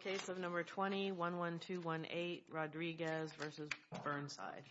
Case number 20-11218, Rodriguez v. Burnside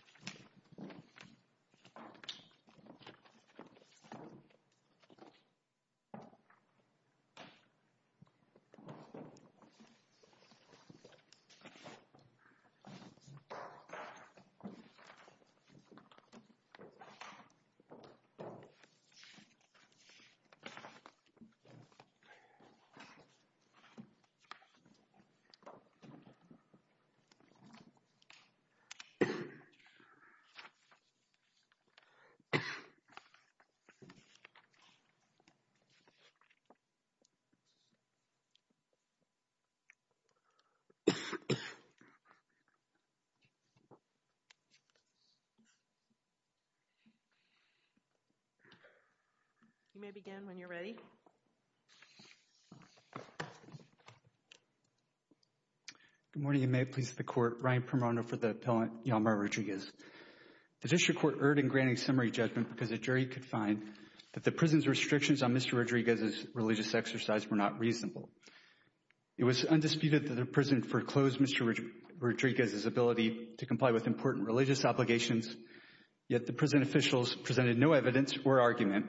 You may begin when you're ready. Good morning, and may it please the Court, Ryan Permono for the appellant, Hjalmar Rodriguez. The district court erred in granting summary judgment because the jury could find that the prison's restrictions on Mr. Rodriguez's religious exercise were not reasonable. It was undisputed that the prison foreclosed Mr. Rodriguez's ability to comply with important religious obligations, yet the prison officials presented no evidence or argument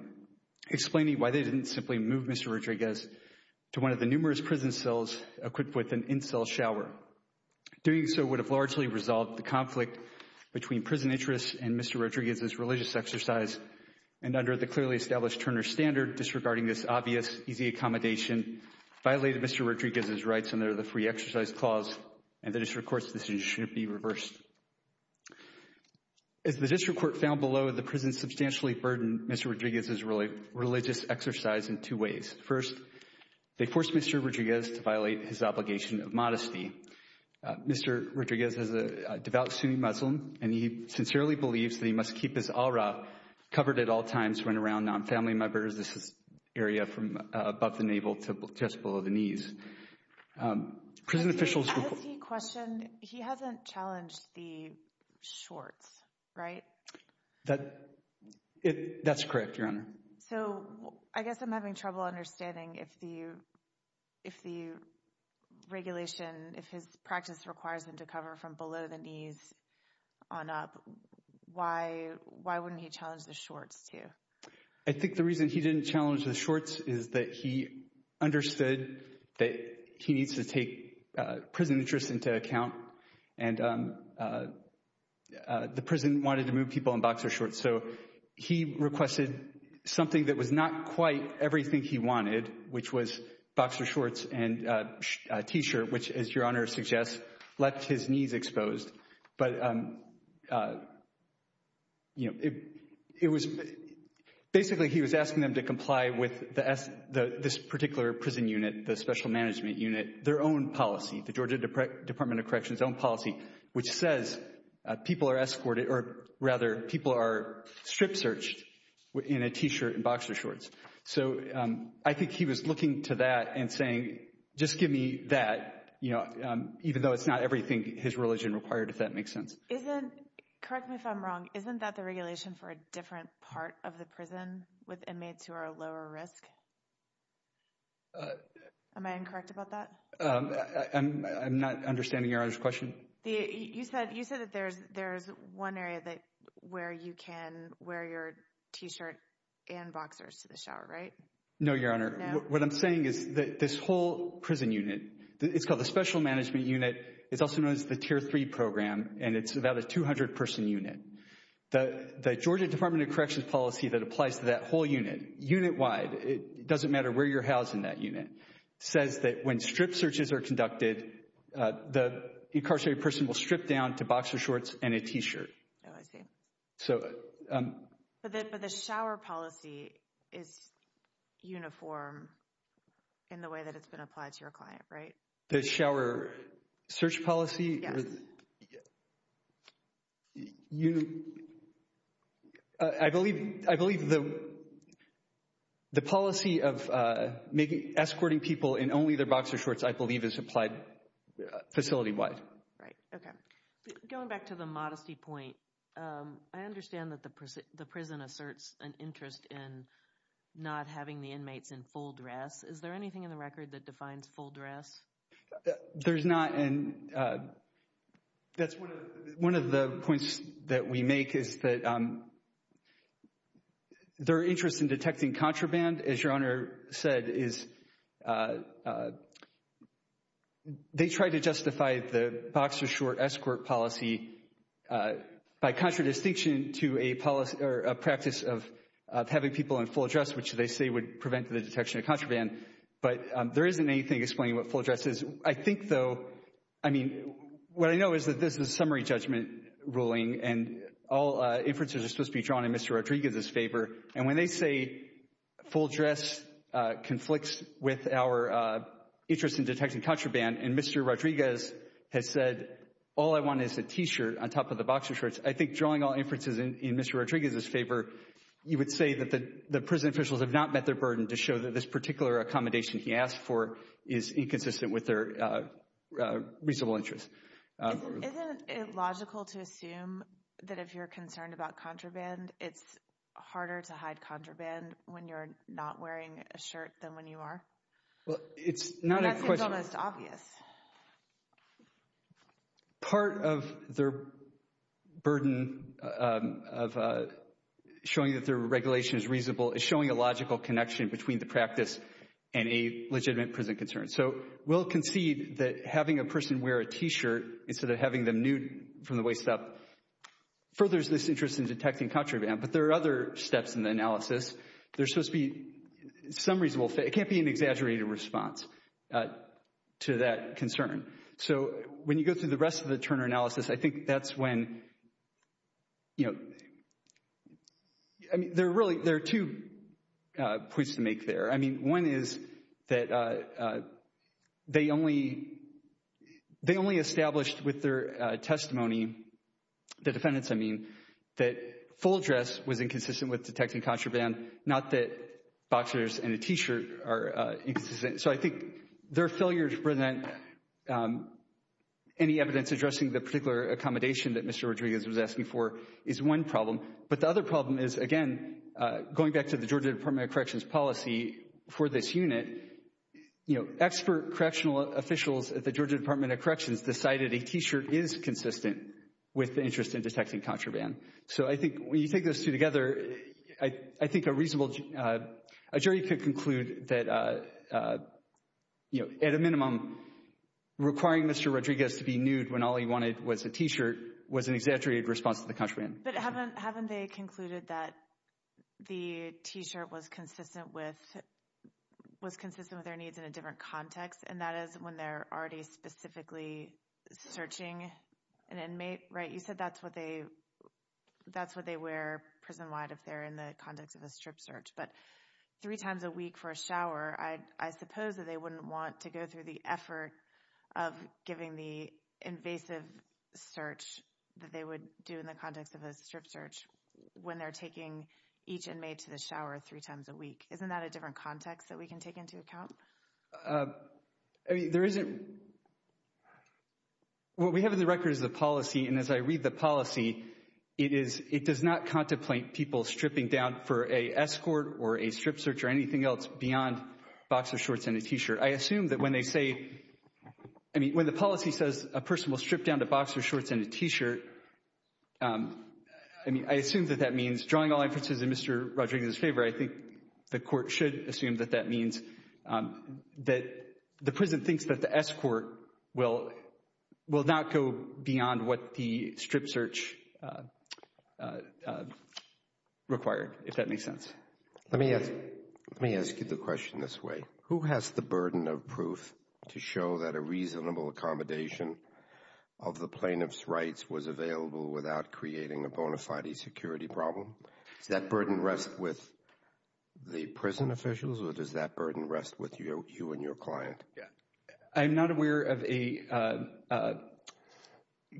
explaining why they didn't simply move Mr. Rodriguez to one of the numerous prison cells equipped with an in-cell shower. Doing so would have largely resolved the conflict between prison interests and Mr. Rodriguez's religious exercise, and under the clearly established Turner Standard, disregarding this obvious, easy accommodation, violated Mr. Rodriguez's rights under the Free Exercise Clause, and the district court's decision should be reversed. As the district court found below, the prison substantially burdened Mr. Rodriguez's religious exercise in two ways. First, they forced Mr. Rodriguez to violate his obligation of modesty. Mr. Rodriguez is a devout Sunni Muslim, and he sincerely believes that he must keep his aura covered at all times when around non-family members in this area from above the navel to just below the knees. As he questioned, he hasn't challenged the shorts, right? That's correct, Your Honor. So, I guess I'm having trouble understanding if the regulation, if his practice requires him to cover from below the knees on up, why wouldn't he challenge the shorts too? I think the reason he didn't challenge the shorts is that he understood that he needs to take prison interests into account, and the prison wanted to move people in boxer shorts, so he requested something that was not quite everything he wanted, which was boxer shorts and a t-shirt, which as Your Honor suggests, left his knees exposed. But, you know, it was, basically he was asking them to comply with this particular prison unit, the special management unit, their own policy, the Georgia Department of Corrections own policy, which says people are escorted, or rather people are strip searched in a t-shirt and boxer shorts. So, I think he was looking to that and saying, just give me that, you know, even though it's not everything his religion required, if that makes sense. Isn't, correct me if I'm wrong, isn't that the regulation for a different part of the prison with inmates who are lower risk? Am I incorrect about that? I'm not understanding Your Honor's question. You said that there's one area where you can wear your t-shirt and boxers to the shower, right? No, Your Honor. What I'm saying is that this whole prison unit, it's called the special management unit, it's also known as the tier three program, and it's about a 200 person unit. The Georgia Department of Corrections policy that applies to that whole unit, unit wide, it doesn't matter where you're housed in that unit, says that when strip searches are conducted, the incarcerated person will strip down to boxer shorts and a t-shirt. Oh, I see. But the shower policy is uniform in the way that it's been applied to your client, right? The shower search policy? Yes. I believe the policy of escorting people in only their boxer shorts, I believe, is applied facility wide. Going back to the modesty point, I understand that the prison asserts an interest in not having the inmates in full dress. Is there anything in the record that defines full dress? There's not, and that's one of the points that we make is that their interest in detecting contraband, as Your Honor said, is they try to justify the boxer short escort policy by contradistinction to a practice of having people in full dress, which they say would prevent the detection of contraband. But there isn't anything explaining what full dress is. I think, though, I mean, what I know is that this is a summary judgment ruling, and all inferences are supposed to be drawn in Mr. Rodriguez's favor. And when they say full dress conflicts with our interest in detecting contraband, and Mr. Rodriguez has said, all I want is a t-shirt on top of the boxer shorts, I think drawing all inferences in Mr. Rodriguez's favor, you would say that the prison officials have not met their burden to show that this particular accommodation he asked for is inconsistent with their reasonable interest. Isn't it logical to assume that if you're concerned about contraband, it's harder to hide contraband when you're not wearing a shirt than when you are? Well, it's not a question. That seems almost obvious. Part of their burden of showing that their regulation is reasonable is showing a logical connection between the practice and a legitimate prison concern. So we'll concede that having a person wear a t-shirt instead of having them nude from the waist up furthers this interest in detecting contraband. But there are other steps in the analysis. There's supposed to be some reasonable fit. It can't be an exaggerated response to that concern. So when you go through the rest of the Turner analysis, I think that's when, you know, I mean, there are really, there are two points to make there. I mean, one is that they only established with their testimony, the defendants, I mean, that full dress was inconsistent with detecting contraband, not that boxers and a t-shirt are inconsistent. So I think their failure to present any evidence addressing the particular accommodation that Mr. Rodriguez was asking for is one problem. But the other problem is, again, going back to the Georgia Department of Corrections policy for this unit, you know, expert correctional officials at the Georgia Department of Corrections decided a t-shirt is consistent with the interest in detecting contraband. So I think when you take those two together, I think a reasonable jury could conclude that, you know, at a minimum, requiring Mr. Rodriguez to be nude when all he wanted was a t-shirt was an exaggerated response to the contraband. But haven't they concluded that the t-shirt was consistent with their needs in a different context, and that is when they're already specifically searching an inmate, right? So that's what they wear prison-wide if they're in the context of a strip search. But three times a week for a shower, I suppose that they wouldn't want to go through the effort of giving the invasive search that they would do in the context of a strip search when they're taking each inmate to the shower three times a week. Isn't that a different context that we can take into account? I mean, there isn't—what we have in the record is the policy, and as I read the policy, it is—it does not contemplate people stripping down for a escort or a strip search or anything else beyond boxer shorts and a t-shirt. I assume that when they say—I mean, when the policy says a person will strip down to boxer shorts and a t-shirt, I mean, I assume that that means drawing all inferences in Mr. Rodriguez's favor. I think the Court should assume that that means that the prison thinks that the escort will not go beyond what the strip search required, if that makes sense. Let me ask you the question this way. Who has the burden of proof to show that a reasonable accommodation of the plaintiff's rights was available without creating a bona fide security problem? Does that burden rest with the prison officials, or does that burden rest with you and your client? I'm not aware of a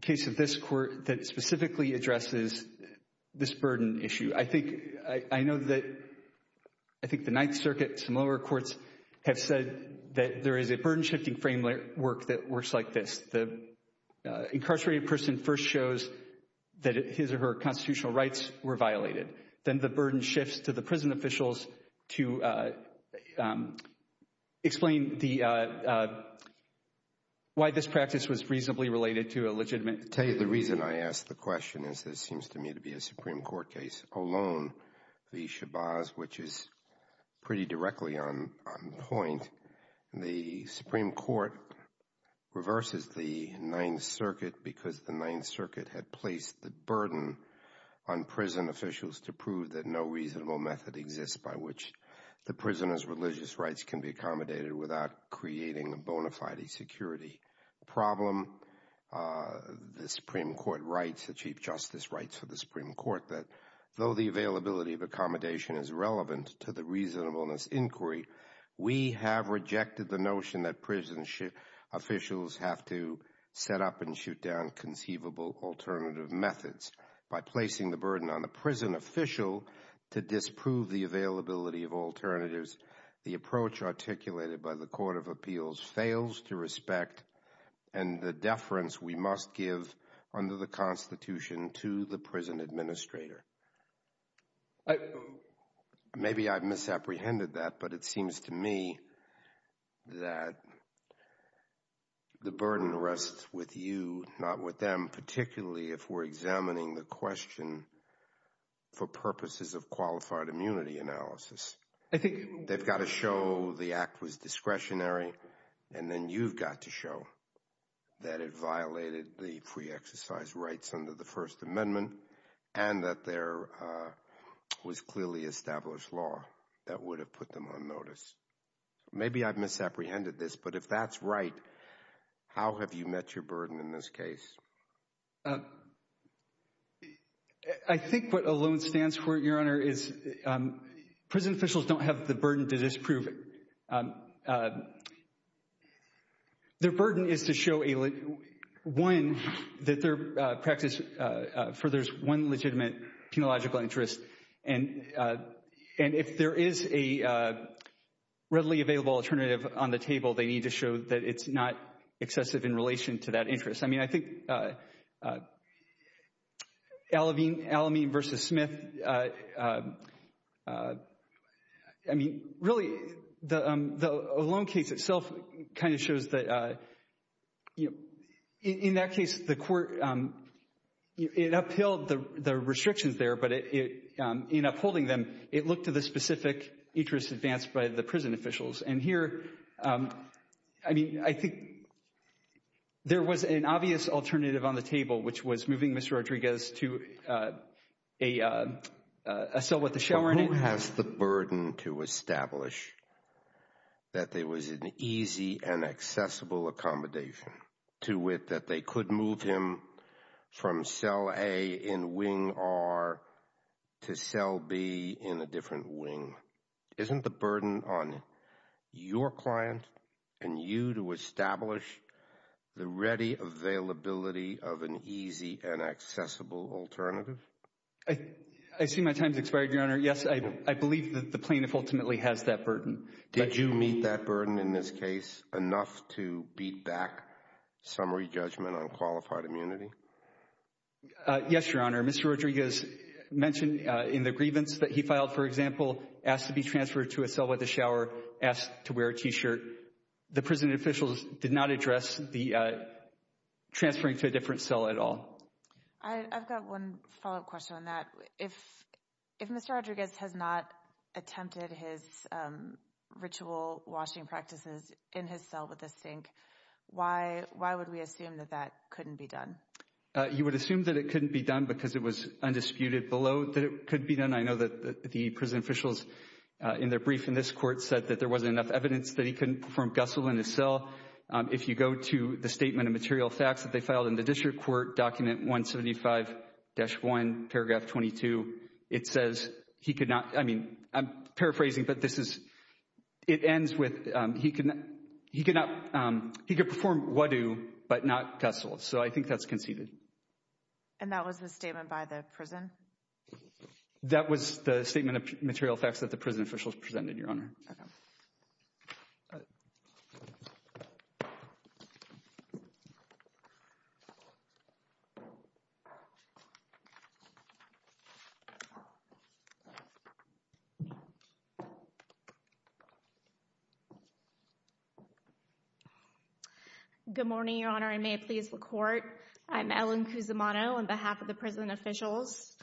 case of this Court that specifically addresses this burden issue. I think—I know that—I think the Ninth Circuit, some lower courts have said that there is a burden-shifting framework that works like this. The incarcerated person first shows that his or her constitutional rights were violated. Then the burden shifts to the prison officials to explain the—why this practice was reasonably related to a legitimate— The reason I ask the question is this seems to me to be a Supreme Court case alone, the Shabazz, which is pretty directly on point. The Supreme Court reverses the Ninth Circuit because the Ninth Circuit had placed the burden on prison officials to prove that no reasonable method exists by which the prisoner's religious rights can be accommodated without creating a bona fide security problem. The Supreme Court writes—the Chief Justice writes for the Supreme Court that though the availability of accommodation is relevant to the reasonableness inquiry, we have rejected the notion that prison officials have to set up and shoot down conceivable alternative methods. By placing the burden on the prison official to disprove the availability of alternatives, the approach articulated by the Court of Appeals fails to respect and the deference we must give under the Constitution to the prison administrator. Maybe I've misapprehended that, but it seems to me that the burden rests with you, not with them, particularly if we're examining the question for purposes of qualified immunity analysis. They've got to show the act was discretionary, and then you've got to show that it violated the free exercise rights under the First Amendment and that there was clearly established law that would have put them on notice. Maybe I've misapprehended this, but if that's right, how have you met your burden in this case? I think what ALONE stands for, Your Honor, is prison officials don't have the burden to disprove it. Their burden is to show, one, that their practice furthers one legitimate penological interest, and if there is a readily available alternative on the table, they need to show that it's not excessive in relation to that interest. I mean, I think Alameen v. Smith, I mean, really, the ALONE case itself kind of shows that, you know, in that case, the court, it upheld the restrictions there, but in upholding them, it looked to the specific interest advanced by the prison officials. And here, I mean, I think there was an obvious alternative on the table, which was moving Mr. Rodriguez to a cell with a shower in it. Who has the burden to establish that there was an easy and accessible accommodation to wit that they could move him from cell A in wing R to cell B in a different wing? Isn't the burden on your client and you to establish the ready availability of an easy and accessible alternative? I see my time has expired, Your Honor. Yes, I believe that the plaintiff ultimately has that burden. Did you meet that burden in this case enough to beat back summary judgment on qualified immunity? Yes, Your Honor. Mr. Rodriguez mentioned in the grievance that he filed, for example, asked to be transferred to a cell with a shower, asked to wear a T-shirt. The prison officials did not address the transferring to a different cell at all. I've got one follow up question on that. If if Mr. Rodriguez has not attempted his ritual washing practices in his cell with a sink, why? Why would we assume that that couldn't be done? You would assume that it couldn't be done because it was undisputed below that it could be done. I know that the prison officials in their brief in this court said that there wasn't enough evidence that he couldn't perform Gussell in his cell. If you go to the statement of material facts that they filed in the district court document 175-1 paragraph 22, it says he could not. I mean, I'm paraphrasing, but this is it ends with he can he cannot he could perform what do but not Gussell. So I think that's conceded. And that was the statement by the prison. That was the statement of material facts that the prison officials presented, Your Honor. Good morning, Your Honor, and may it please the court. I'm Ellen Cusimano on behalf of the prison officials.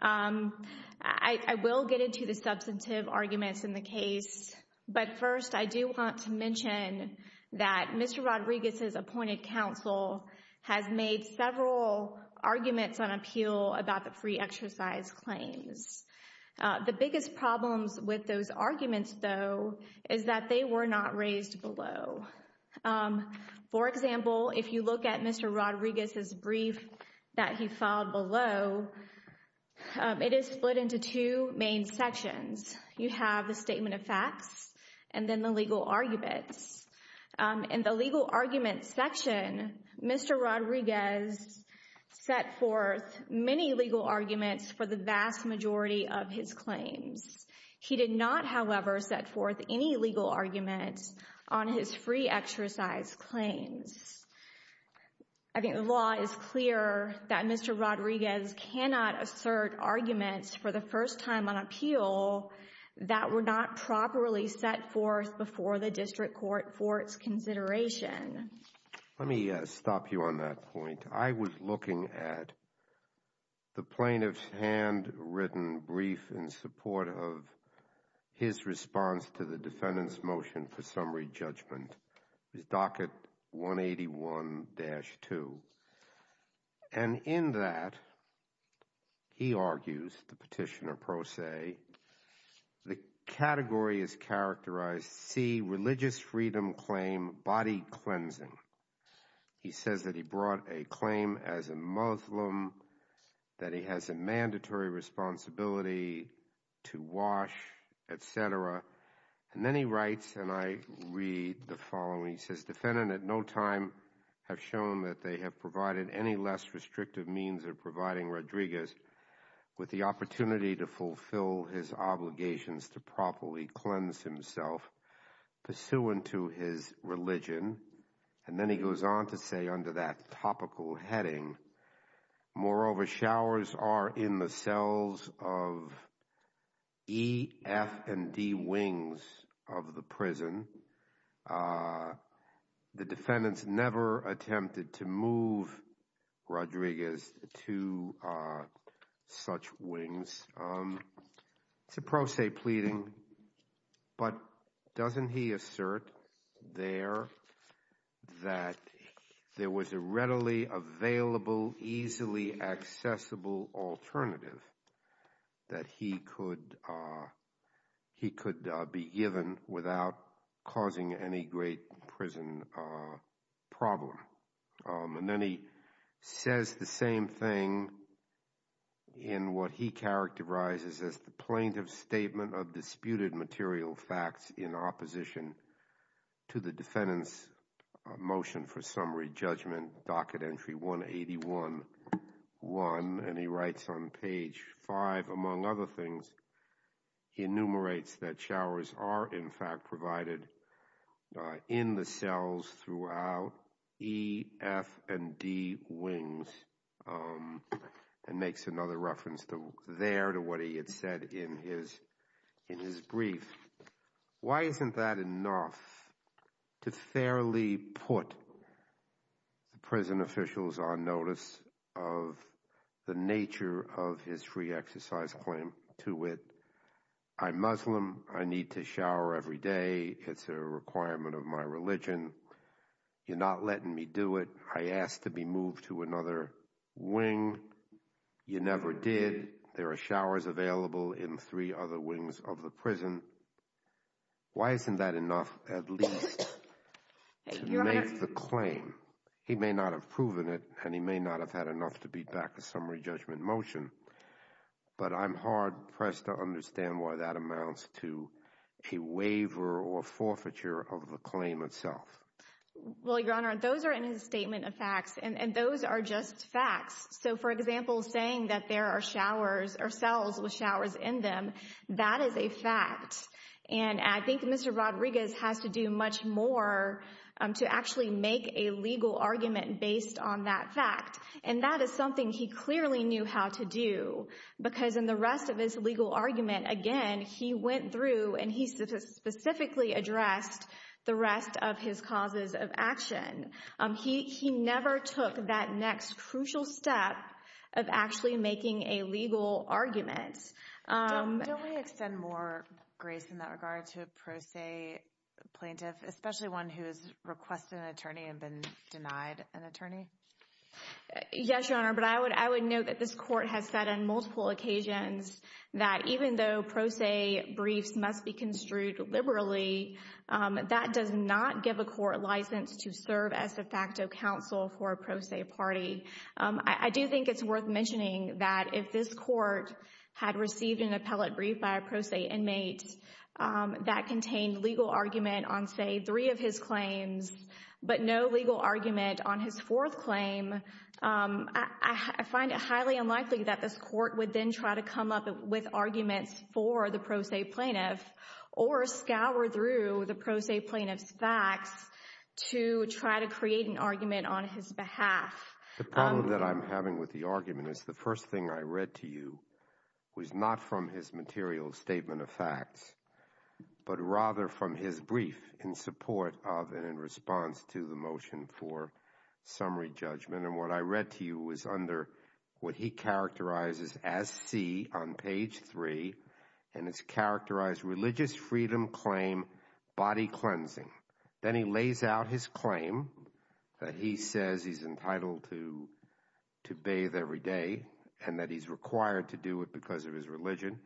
I will get into the substantive arguments in the case. But first, I do want to mention that Mr. Rodriguez's appointed counsel has made several arguments on appeal about the free exercise claims. The biggest problems with those arguments, though, is that they were not raised below. For example, if you look at Mr. Rodriguez's brief that he filed below, it is split into two main sections. You have the statement of facts and then the legal arguments and the legal arguments section. Mr. Rodriguez set forth many legal arguments for the vast majority of his claims. He did not, however, set forth any legal arguments on his free exercise claims. I think the law is clear that Mr. Rodriguez cannot assert arguments for the first time on appeal that were not properly set forth before the district court for its consideration. Let me stop you on that point. I was looking at the plaintiff's handwritten brief in support of his response to the defendant's motion for summary judgment. His docket 181-2. And in that, he argues, the petitioner pro se, the category is characterized C, religious freedom claim, body cleansing. He says that he brought a claim as a Muslim, that he has a mandatory responsibility to wash, etc. And then he writes, and I read the following. He says, defendant at no time have shown that they have provided any less restrictive means of providing Rodriguez with the opportunity to fulfill his obligations to properly cleanse himself pursuant to his religion. And then he goes on to say under that topical heading, moreover, showers are in the cells of E, F, and D wings of the prison. The defendants never attempted to move Rodriguez to such wings. It's a pro se pleading, but doesn't he assert there that there was a readily available, easily accessible alternative that he could be given without causing any great prison problem? And then he says the same thing in what he characterizes as the plaintiff's statement of disputed material facts in opposition to the defendant's motion for summary judgment, docket entry 181-1. And he writes on page five, among other things, he enumerates that showers are in fact provided in the cells throughout E, F, and D wings and makes another reference there to what he had said in his brief. Why isn't that enough to fairly put the prison officials on notice of the nature of his free exercise claim to it? I'm Muslim. I need to shower every day. It's a requirement of my religion. You're not letting me do it. I asked to be moved to another wing. You never did. There are showers available in three other wings of the prison. Why isn't that enough at least to make the claim? He may not have proven it, and he may not have had enough to beat back the summary judgment motion. But I'm hard pressed to understand why that amounts to a waiver or forfeiture of the claim itself. Well, Your Honor, those are in his statement of facts, and those are just facts. So, for example, saying that there are showers or cells with showers in them, that is a fact. And I think Mr. Rodriguez has to do much more to actually make a legal argument based on that fact. And that is something he clearly knew how to do because in the rest of his legal argument, again, he went through and he specifically addressed the rest of his causes of action. He never took that next crucial step of actually making a legal argument. Don't we extend more grace in that regard to a pro se plaintiff, especially one who has requested an attorney and been denied an attorney? Yes, Your Honor, but I would note that this court has said on multiple occasions that even though pro se briefs must be construed liberally, that does not give a court license to serve as a facto counsel for a pro se party. I do think it's worth mentioning that if this court had received an appellate brief by a pro se inmate that contained legal argument on, say, three of his claims, but no legal argument on his fourth claim, I find it highly unlikely that this court would then try to come up with arguments for the pro se plaintiff or scour through the pro se plaintiff's facts to try to create an argument on his behalf. The problem that I'm having with the argument is the first thing I read to you was not from his material statement of facts, but rather from his brief in support of and in response to the motion for summary judgment. And what I read to you was under what he characterizes as C on page three, and it's characterized religious freedom claim, body cleansing. Then he lays out his claim that he says he's entitled to bathe every day and that he's required to do it because of his religion.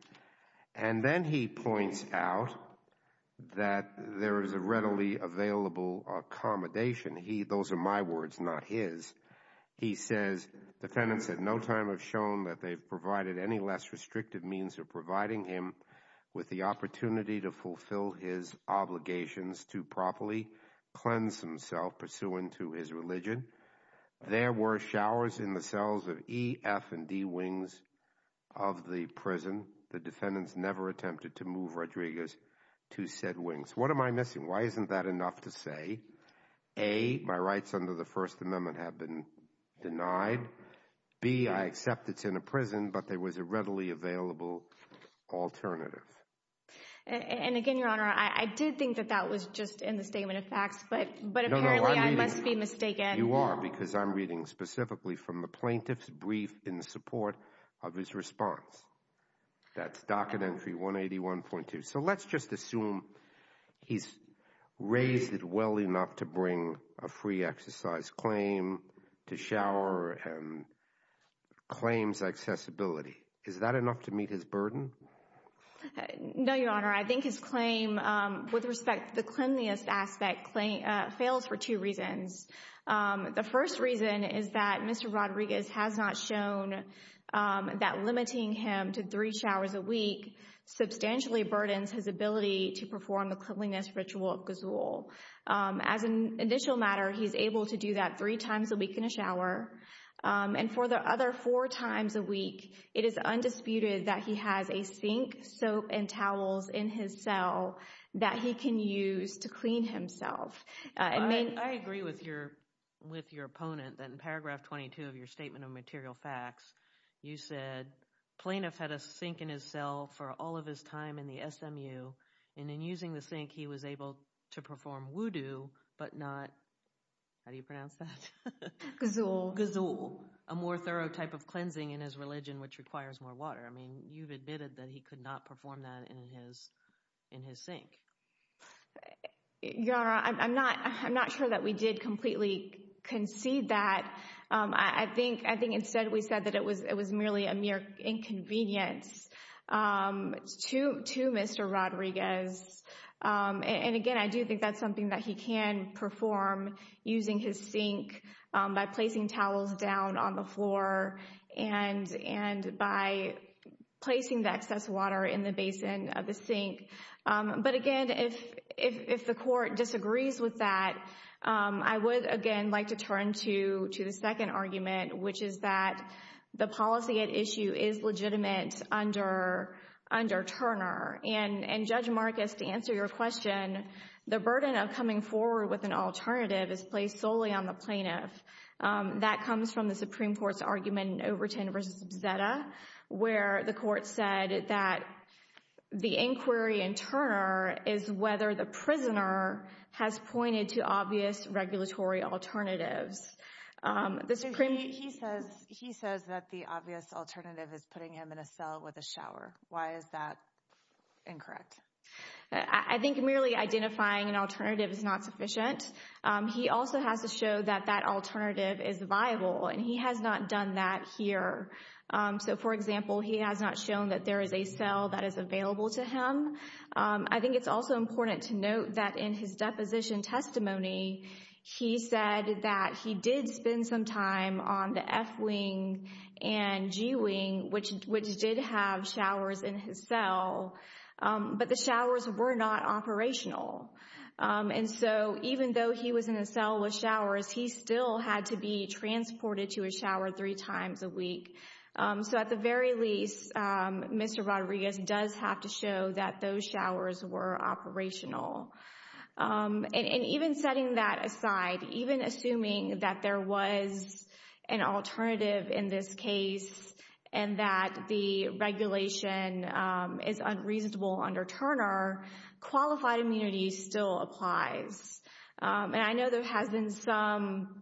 And then he points out that there is a readily available accommodation. Those are my words, not his. He says defendants at no time have shown that they've provided any less restrictive means of providing him with the opportunity to fulfill his obligations to properly cleanse himself pursuant to his religion. There were showers in the cells of E, F, and D wings of the prison. The defendants never attempted to move Rodriguez to said wings. What am I missing? Why isn't that enough to say? A, my rights under the First Amendment have been denied. B, I accept it's in a prison, but there was a readily available alternative. And again, Your Honor, I did think that that was just in the statement of facts, but but apparently I must be mistaken. You are because I'm reading specifically from the plaintiff's brief in support of his response. That's docket entry 181.2. So let's just assume he's raised it well enough to bring a free exercise claim to shower claims accessibility. Is that enough to meet his burden? No, Your Honor. I think his claim with respect to the cleanliest aspect claim fails for two reasons. The first reason is that Mr. Rodriguez has not shown that limiting him to three showers a week substantially burdens his ability to perform the cleanliness ritual. As an initial matter, he's able to do that three times a week in a shower. And for the other four times a week, it is undisputed that he has a sink, soap and towels in his cell that he can use to clean himself. I mean, I agree with your with your opponent that in paragraph 22 of your statement of material facts, you said plaintiff had a sink in his cell for all of his time in the SMU. And in using the sink, he was able to perform voodoo, but not. How do you pronounce that? Gazelle gazelle, a more thorough type of cleansing in his religion, which requires more water. I mean, you've admitted that he could not perform that in his in his sink. Yara, I'm not I'm not sure that we did completely concede that. I think I think instead we said that it was it was merely a mere inconvenience to to Mr. Rodriguez. And again, I do think that's something that he can perform using his sink by placing towels down on the floor and and by placing the excess water in the basin of the sink. But again, if if the court disagrees with that, I would, again, like to turn to to the second argument, which is that the policy at issue is legitimate under under Turner and Judge Marcus to answer your question. The burden of coming forward with an alternative is placed solely on the plaintiff. That comes from the Supreme Court's argument in Overton versus Zetta, where the court said that the inquiry in Turner is whether the prisoner has pointed to obvious regulatory alternatives. The Supreme Court. He says he says that the obvious alternative is putting him in a cell with a shower. Why is that incorrect? I think merely identifying an alternative is not sufficient. He also has to show that that alternative is viable and he has not done that here. So, for example, he has not shown that there is a cell that is available to him. I think it's also important to note that in his deposition testimony, he said that he did spend some time on the F wing and G wing, which which did have showers in his cell. But the showers were not operational. And so even though he was in a cell with showers, he still had to be transported to a shower three times a week. So at the very least, Mr. Rodriguez does have to show that those showers were operational. And even setting that aside, even assuming that there was an alternative in this case and that the regulation is unreasonable under Turner, qualified immunity still applies. And I know there has been some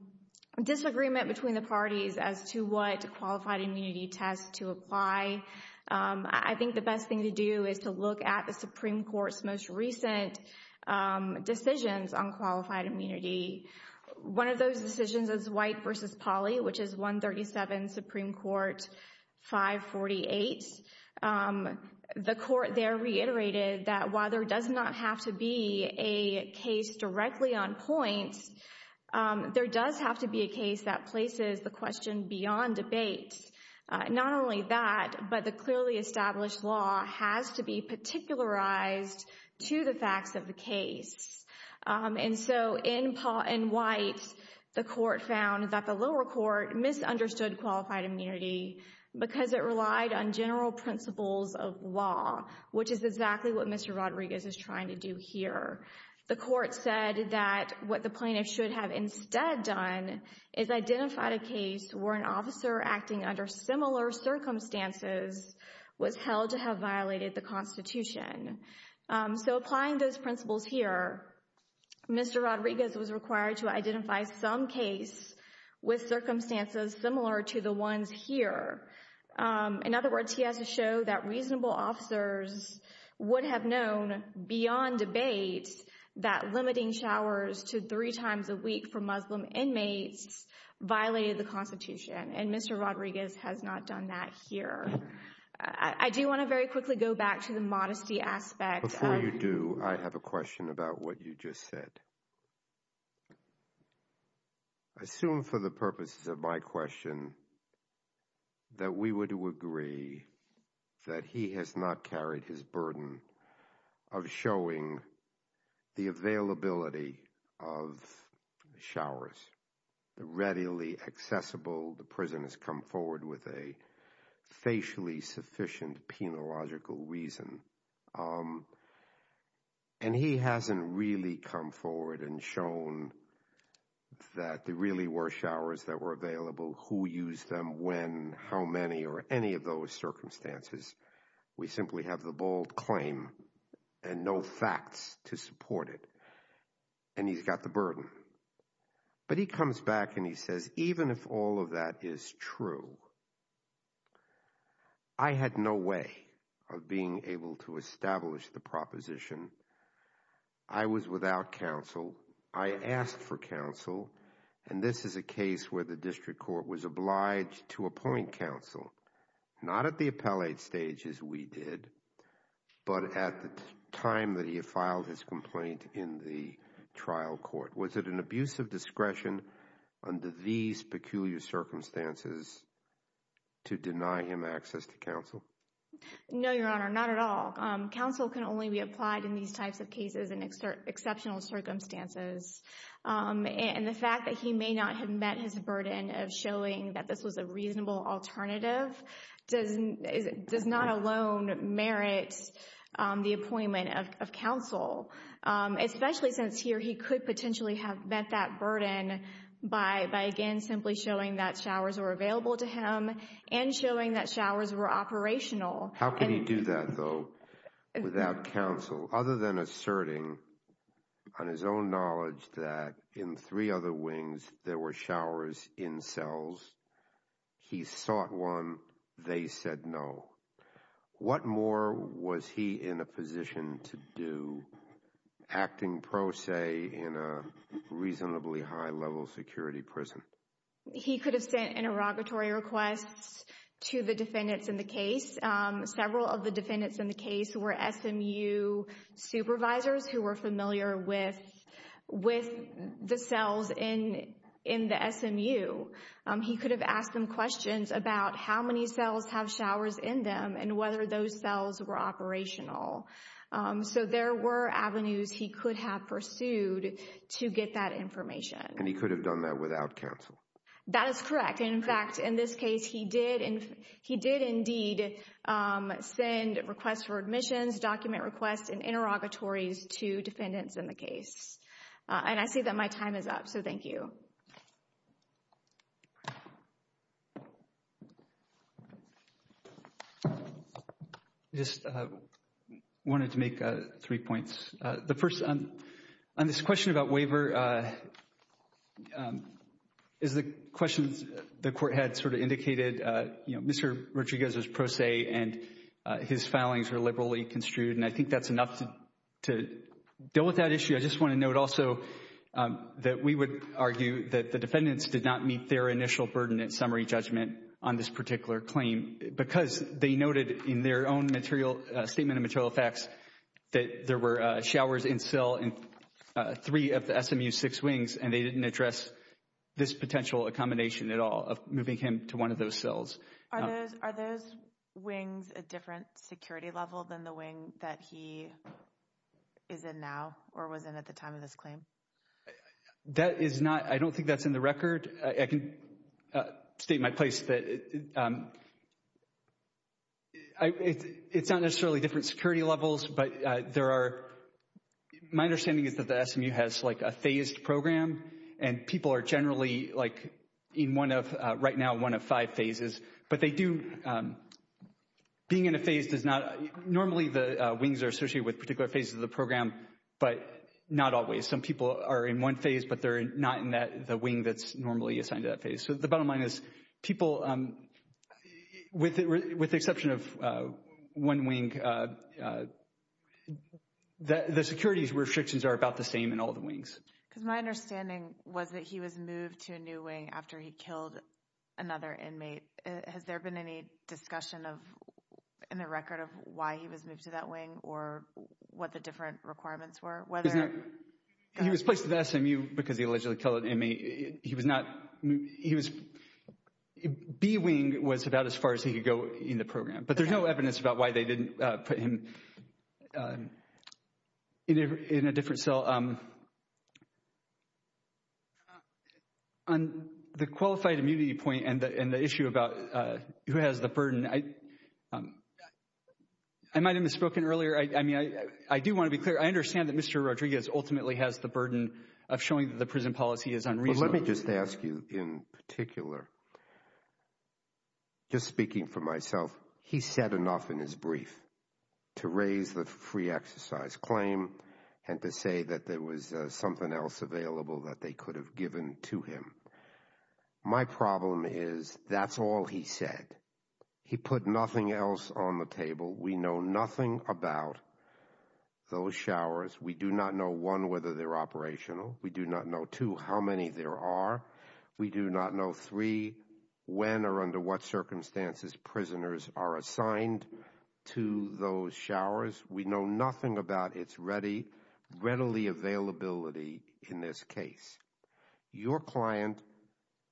disagreement between the parties as to what qualified immunity tests to apply. I think the best thing to do is to look at the Supreme Court's most recent decisions on qualified immunity. One of those decisions is white versus poly, which is 137 Supreme Court 548. The court there reiterated that while there does not have to be a case directly on points, there does have to be a case that places the question beyond debate. Not only that, but the clearly established law has to be particularized to the facts of the case. And so in Paul and White, the court found that the lower court misunderstood qualified immunity because it relied on general principles of law, which is exactly what Mr. Rodriguez is trying to do here. The court said that what the plaintiff should have instead done is identified a case where an officer acting under similar circumstances was held to have violated the Constitution. So applying those principles here, Mr. Rodriguez was required to identify some case with circumstances similar to the ones here. In other words, he has to show that reasonable officers would have known beyond debate that limiting showers to three times a week for Muslim inmates violated the Constitution. And Mr. Rodriguez has not done that here. I do want to very quickly go back to the modesty aspect. Before you do, I have a question about what you just said. I assume for the purposes of my question that we were to agree that he has not carried his burden of showing the availability of showers readily accessible. The prison has come forward with a facially sufficient penological reason. And he hasn't really come forward and shown that there really were showers that were available, who used them, when, how many, or any of those circumstances. We simply have the bold claim and no facts to support it. And he's got the burden. But he comes back and he says, even if all of that is true, I had no way of being able to establish the proposition. I was without counsel. I asked for counsel. And this is a case where the district court was obliged to appoint counsel, not at the appellate stage as we did, but at the time that he had filed his complaint in the trial court. Was it an abuse of discretion under these peculiar circumstances to deny him access to counsel? No, Your Honor, not at all. Counsel can only be applied in these types of cases and exceptional circumstances. And the fact that he may not have met his burden of showing that this was a reasonable alternative does not alone merit the appointment of counsel. Especially since here he could potentially have met that burden by, again, simply showing that showers were available to him and showing that showers were operational. How can he do that, though, without counsel, other than asserting on his own knowledge that in three other wings there were showers in cells? He sought one. They said no. What more was he in a position to do, acting pro se in a reasonably high-level security prison? He could have sent interrogatory requests to the defendants in the case. Several of the defendants in the case were SMU supervisors who were familiar with the cells in the SMU. He could have asked them questions about how many cells have showers in them and whether those cells were operational. So there were avenues he could have pursued to get that information. And he could have done that without counsel? That is correct. In fact, in this case, he did indeed send requests for admissions, document requests, and interrogatories to defendants in the case. And I see that my time is up. So thank you. I just wanted to make three points. The first, on this question about waiver, is the question the court had sort of indicated, you know, Mr. Rodriguez was pro se and his filings were liberally construed. And I think that's enough to deal with that issue. I just want to note also that we would argue that the defendants did not meet their initial burden in summary judgment on this particular claim because they noted in their own statement of material facts that there were showers in cell in three of the SMU's six wings, and they didn't address this potential accommodation at all of moving him to one of those cells. Are those wings a different security level than the wing that he is in now or was in at the time of this claim? That is not, I don't think that's in the record. I can state my place that it's not necessarily different security levels, but there are, my understanding is that the SMU has like a phased program and people are generally like in one of, right now, one of five phases. But they do, being in a phase does not, normally the wings are associated with particular phases of the program, but not always. Some people are in one phase, but they're not in the wing that's normally assigned to that phase. So the bottom line is people, with the exception of one wing, the securities restrictions are about the same in all the wings. Because my understanding was that he was moved to a new wing after he killed another inmate. Has there been any discussion in the record of why he was moved to that wing or what the different requirements were? He was placed at the SMU because he allegedly killed an inmate. He was not, he was, B wing was about as far as he could go in the program. But there's no evidence about why they didn't put him in a different cell. On the qualified immunity point and the issue about who has the burden, I might have misspoken earlier. I mean, I do want to be clear. I understand that Mr. Rodriguez ultimately has the burden of showing that the prison policy is unreasonable. Let me just ask you in particular, just speaking for myself, he said enough in his brief to raise the free exercise claim and to say that there was something else available that they could have given to him. My problem is that's all he said. He put nothing else on the table. We know nothing about those showers. We do not know, one, whether they're operational. We do not know, two, how many there are. We do not know, three, when or under what circumstances prisoners are assigned to those showers. We know nothing about its ready, readily availability in this case. Your client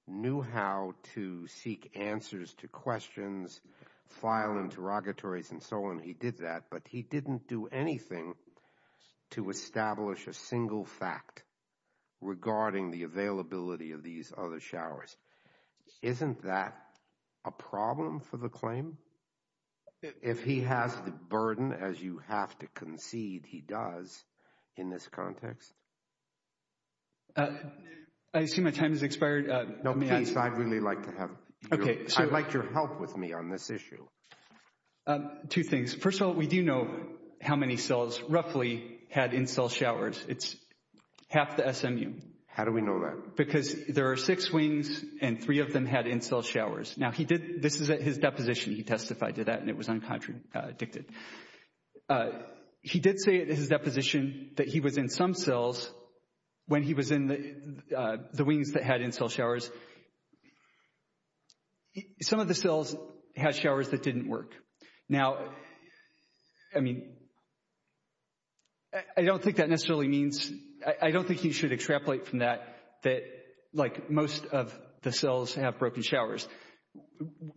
knew how to seek answers to questions, file interrogatories, and so on. He did that, but he didn't do anything to establish a single fact regarding the availability of these other showers. Isn't that a problem for the claim? If he has the burden, as you have to concede he does in this context? I assume my time has expired. No, please, I'd really like your help with me on this issue. Two things. First of all, we do know how many cells roughly had in-cell showers. It's half the SMU. How do we know that? Because there are six wings and three of them had in-cell showers. Now, this is at his deposition. He testified to that and it was uncontradicted. He did say at his deposition that he was in some cells when he was in the wings that had in-cell showers. Some of the cells had showers that didn't work. Now, I mean, I don't think that necessarily means, I don't think you should extrapolate from that, that like most of the cells have broken showers.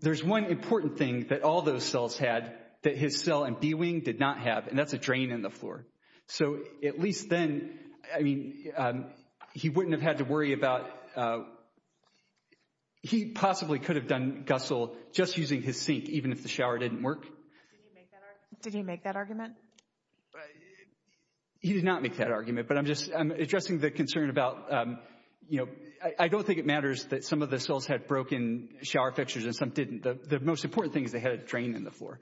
There's one important thing that all those cells had that his cell in B wing did not have, and that's a drain in the floor. So at least then, I mean, he wouldn't have had to worry about, he possibly could have done GUSL just using his sink even if the shower didn't work. Did he make that argument? He did not make that argument, but I'm just addressing the concern about, you know, I don't think it matters that some of the cells had broken shower fixtures and some didn't. The most important thing is they had a drain in the floor.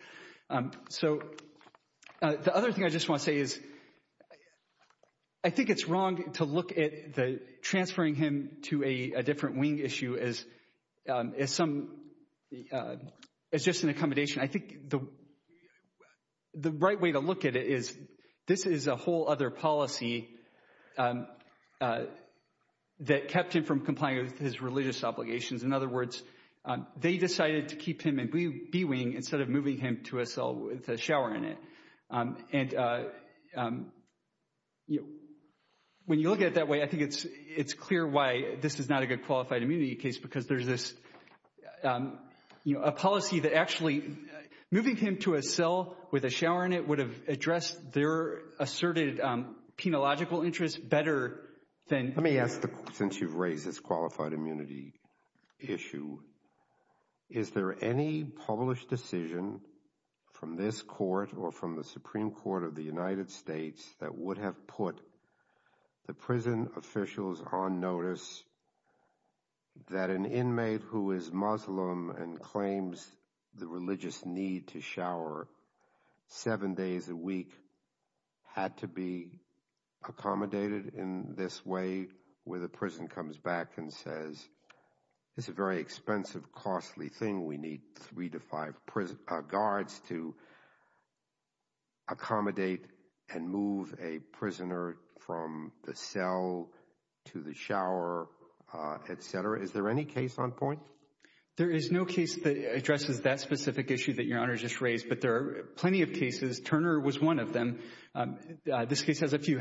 So the other thing I just want to say is I think it's wrong to look at transferring him to a different wing issue as just an accommodation. I think the right way to look at it is this is a whole other policy that kept him from complying with his religious obligations. In other words, they decided to keep him in B wing instead of moving him to a cell with a shower in it. And when you look at it that way, I think it's clear why this is not a good qualified immunity case, because there's this policy that actually moving him to a cell with a shower in it would have addressed their asserted penological interests better than. Let me ask, since you've raised this qualified immunity issue, is there any published decision from this court or from the Supreme Court of the United States that would have put the prison officials on notice that an inmate who is Muslim and claims the religious need to shower seven days a week had to be accommodated in this way? Where the prison comes back and says it's a very expensive, costly thing. We need three to five guards to accommodate and move a prisoner from the cell to the shower, et cetera. Is there any case on point? There is no case that addresses that specific issue that Your Honor just raised, but there are plenty of cases. Turner was one of them. This case has a few.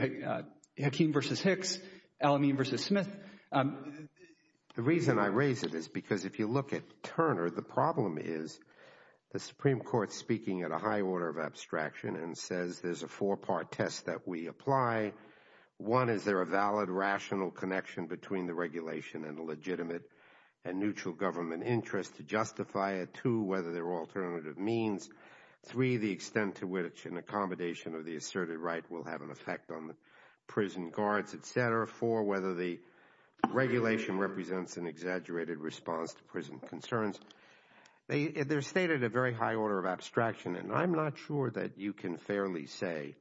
Hakeem versus Hicks. Elamine versus Smith. The reason I raise it is because if you look at Turner, the problem is the Supreme Court speaking at a high order of abstraction and says there's a four-part test that we apply. One, is there a valid, rational connection between the regulation and the legitimate and neutral government interest to justify it? Two, whether there are alternative means. Three, the extent to which an accommodation of the asserted right will have an effect on the prison guards, et cetera. Four, whether the regulation represents an exaggerated response to prison concerns. They're stated at a very high order of abstraction, and I'm not sure that you can fairly say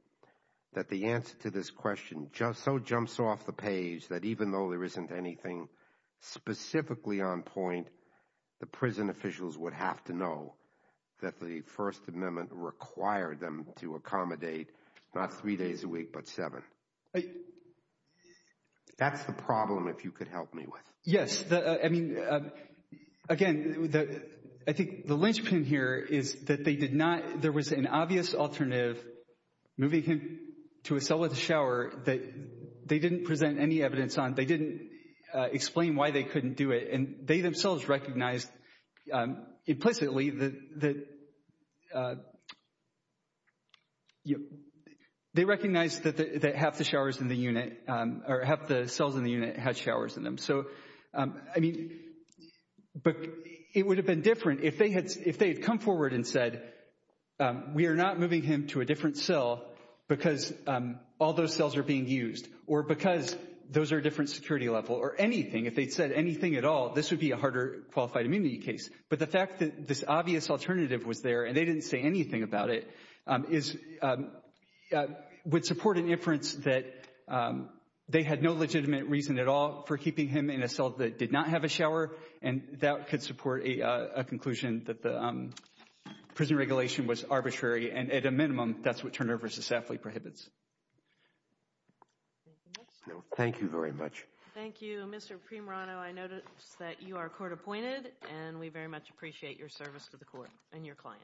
that the answer to this question so jumps off the page that even though there isn't anything specifically on point, the prison officials would have to know that the First Amendment required them to accommodate not three days a week, but seven. That's the problem, if you could help me with. Yes. I mean, again, I think the linchpin here is that there was an obvious alternative, moving him to a cell with a shower, that they didn't present any evidence on. They didn't explain why they couldn't do it, and they themselves recognized implicitly that they recognized that half the showers in the unit, or half the cells in the unit had showers in them. So, I mean, but it would have been different if they had come forward and said, we are not moving him to a different cell because all those cells are being used or because those are different security level or anything. If they'd said anything at all, this would be a harder qualified immunity case. But the fact that this obvious alternative was there, and they didn't say anything about it, would support an inference that they had no legitimate reason at all for keeping him in a cell that did not have a shower, and that could support a conclusion that the prison regulation was arbitrary, and at a minimum, that's what Turner v. Safley prohibits. Thank you very much. Thank you. Mr. Primerano, I notice that you are court appointed, and we very much appreciate your service to the court and your client. Thank you.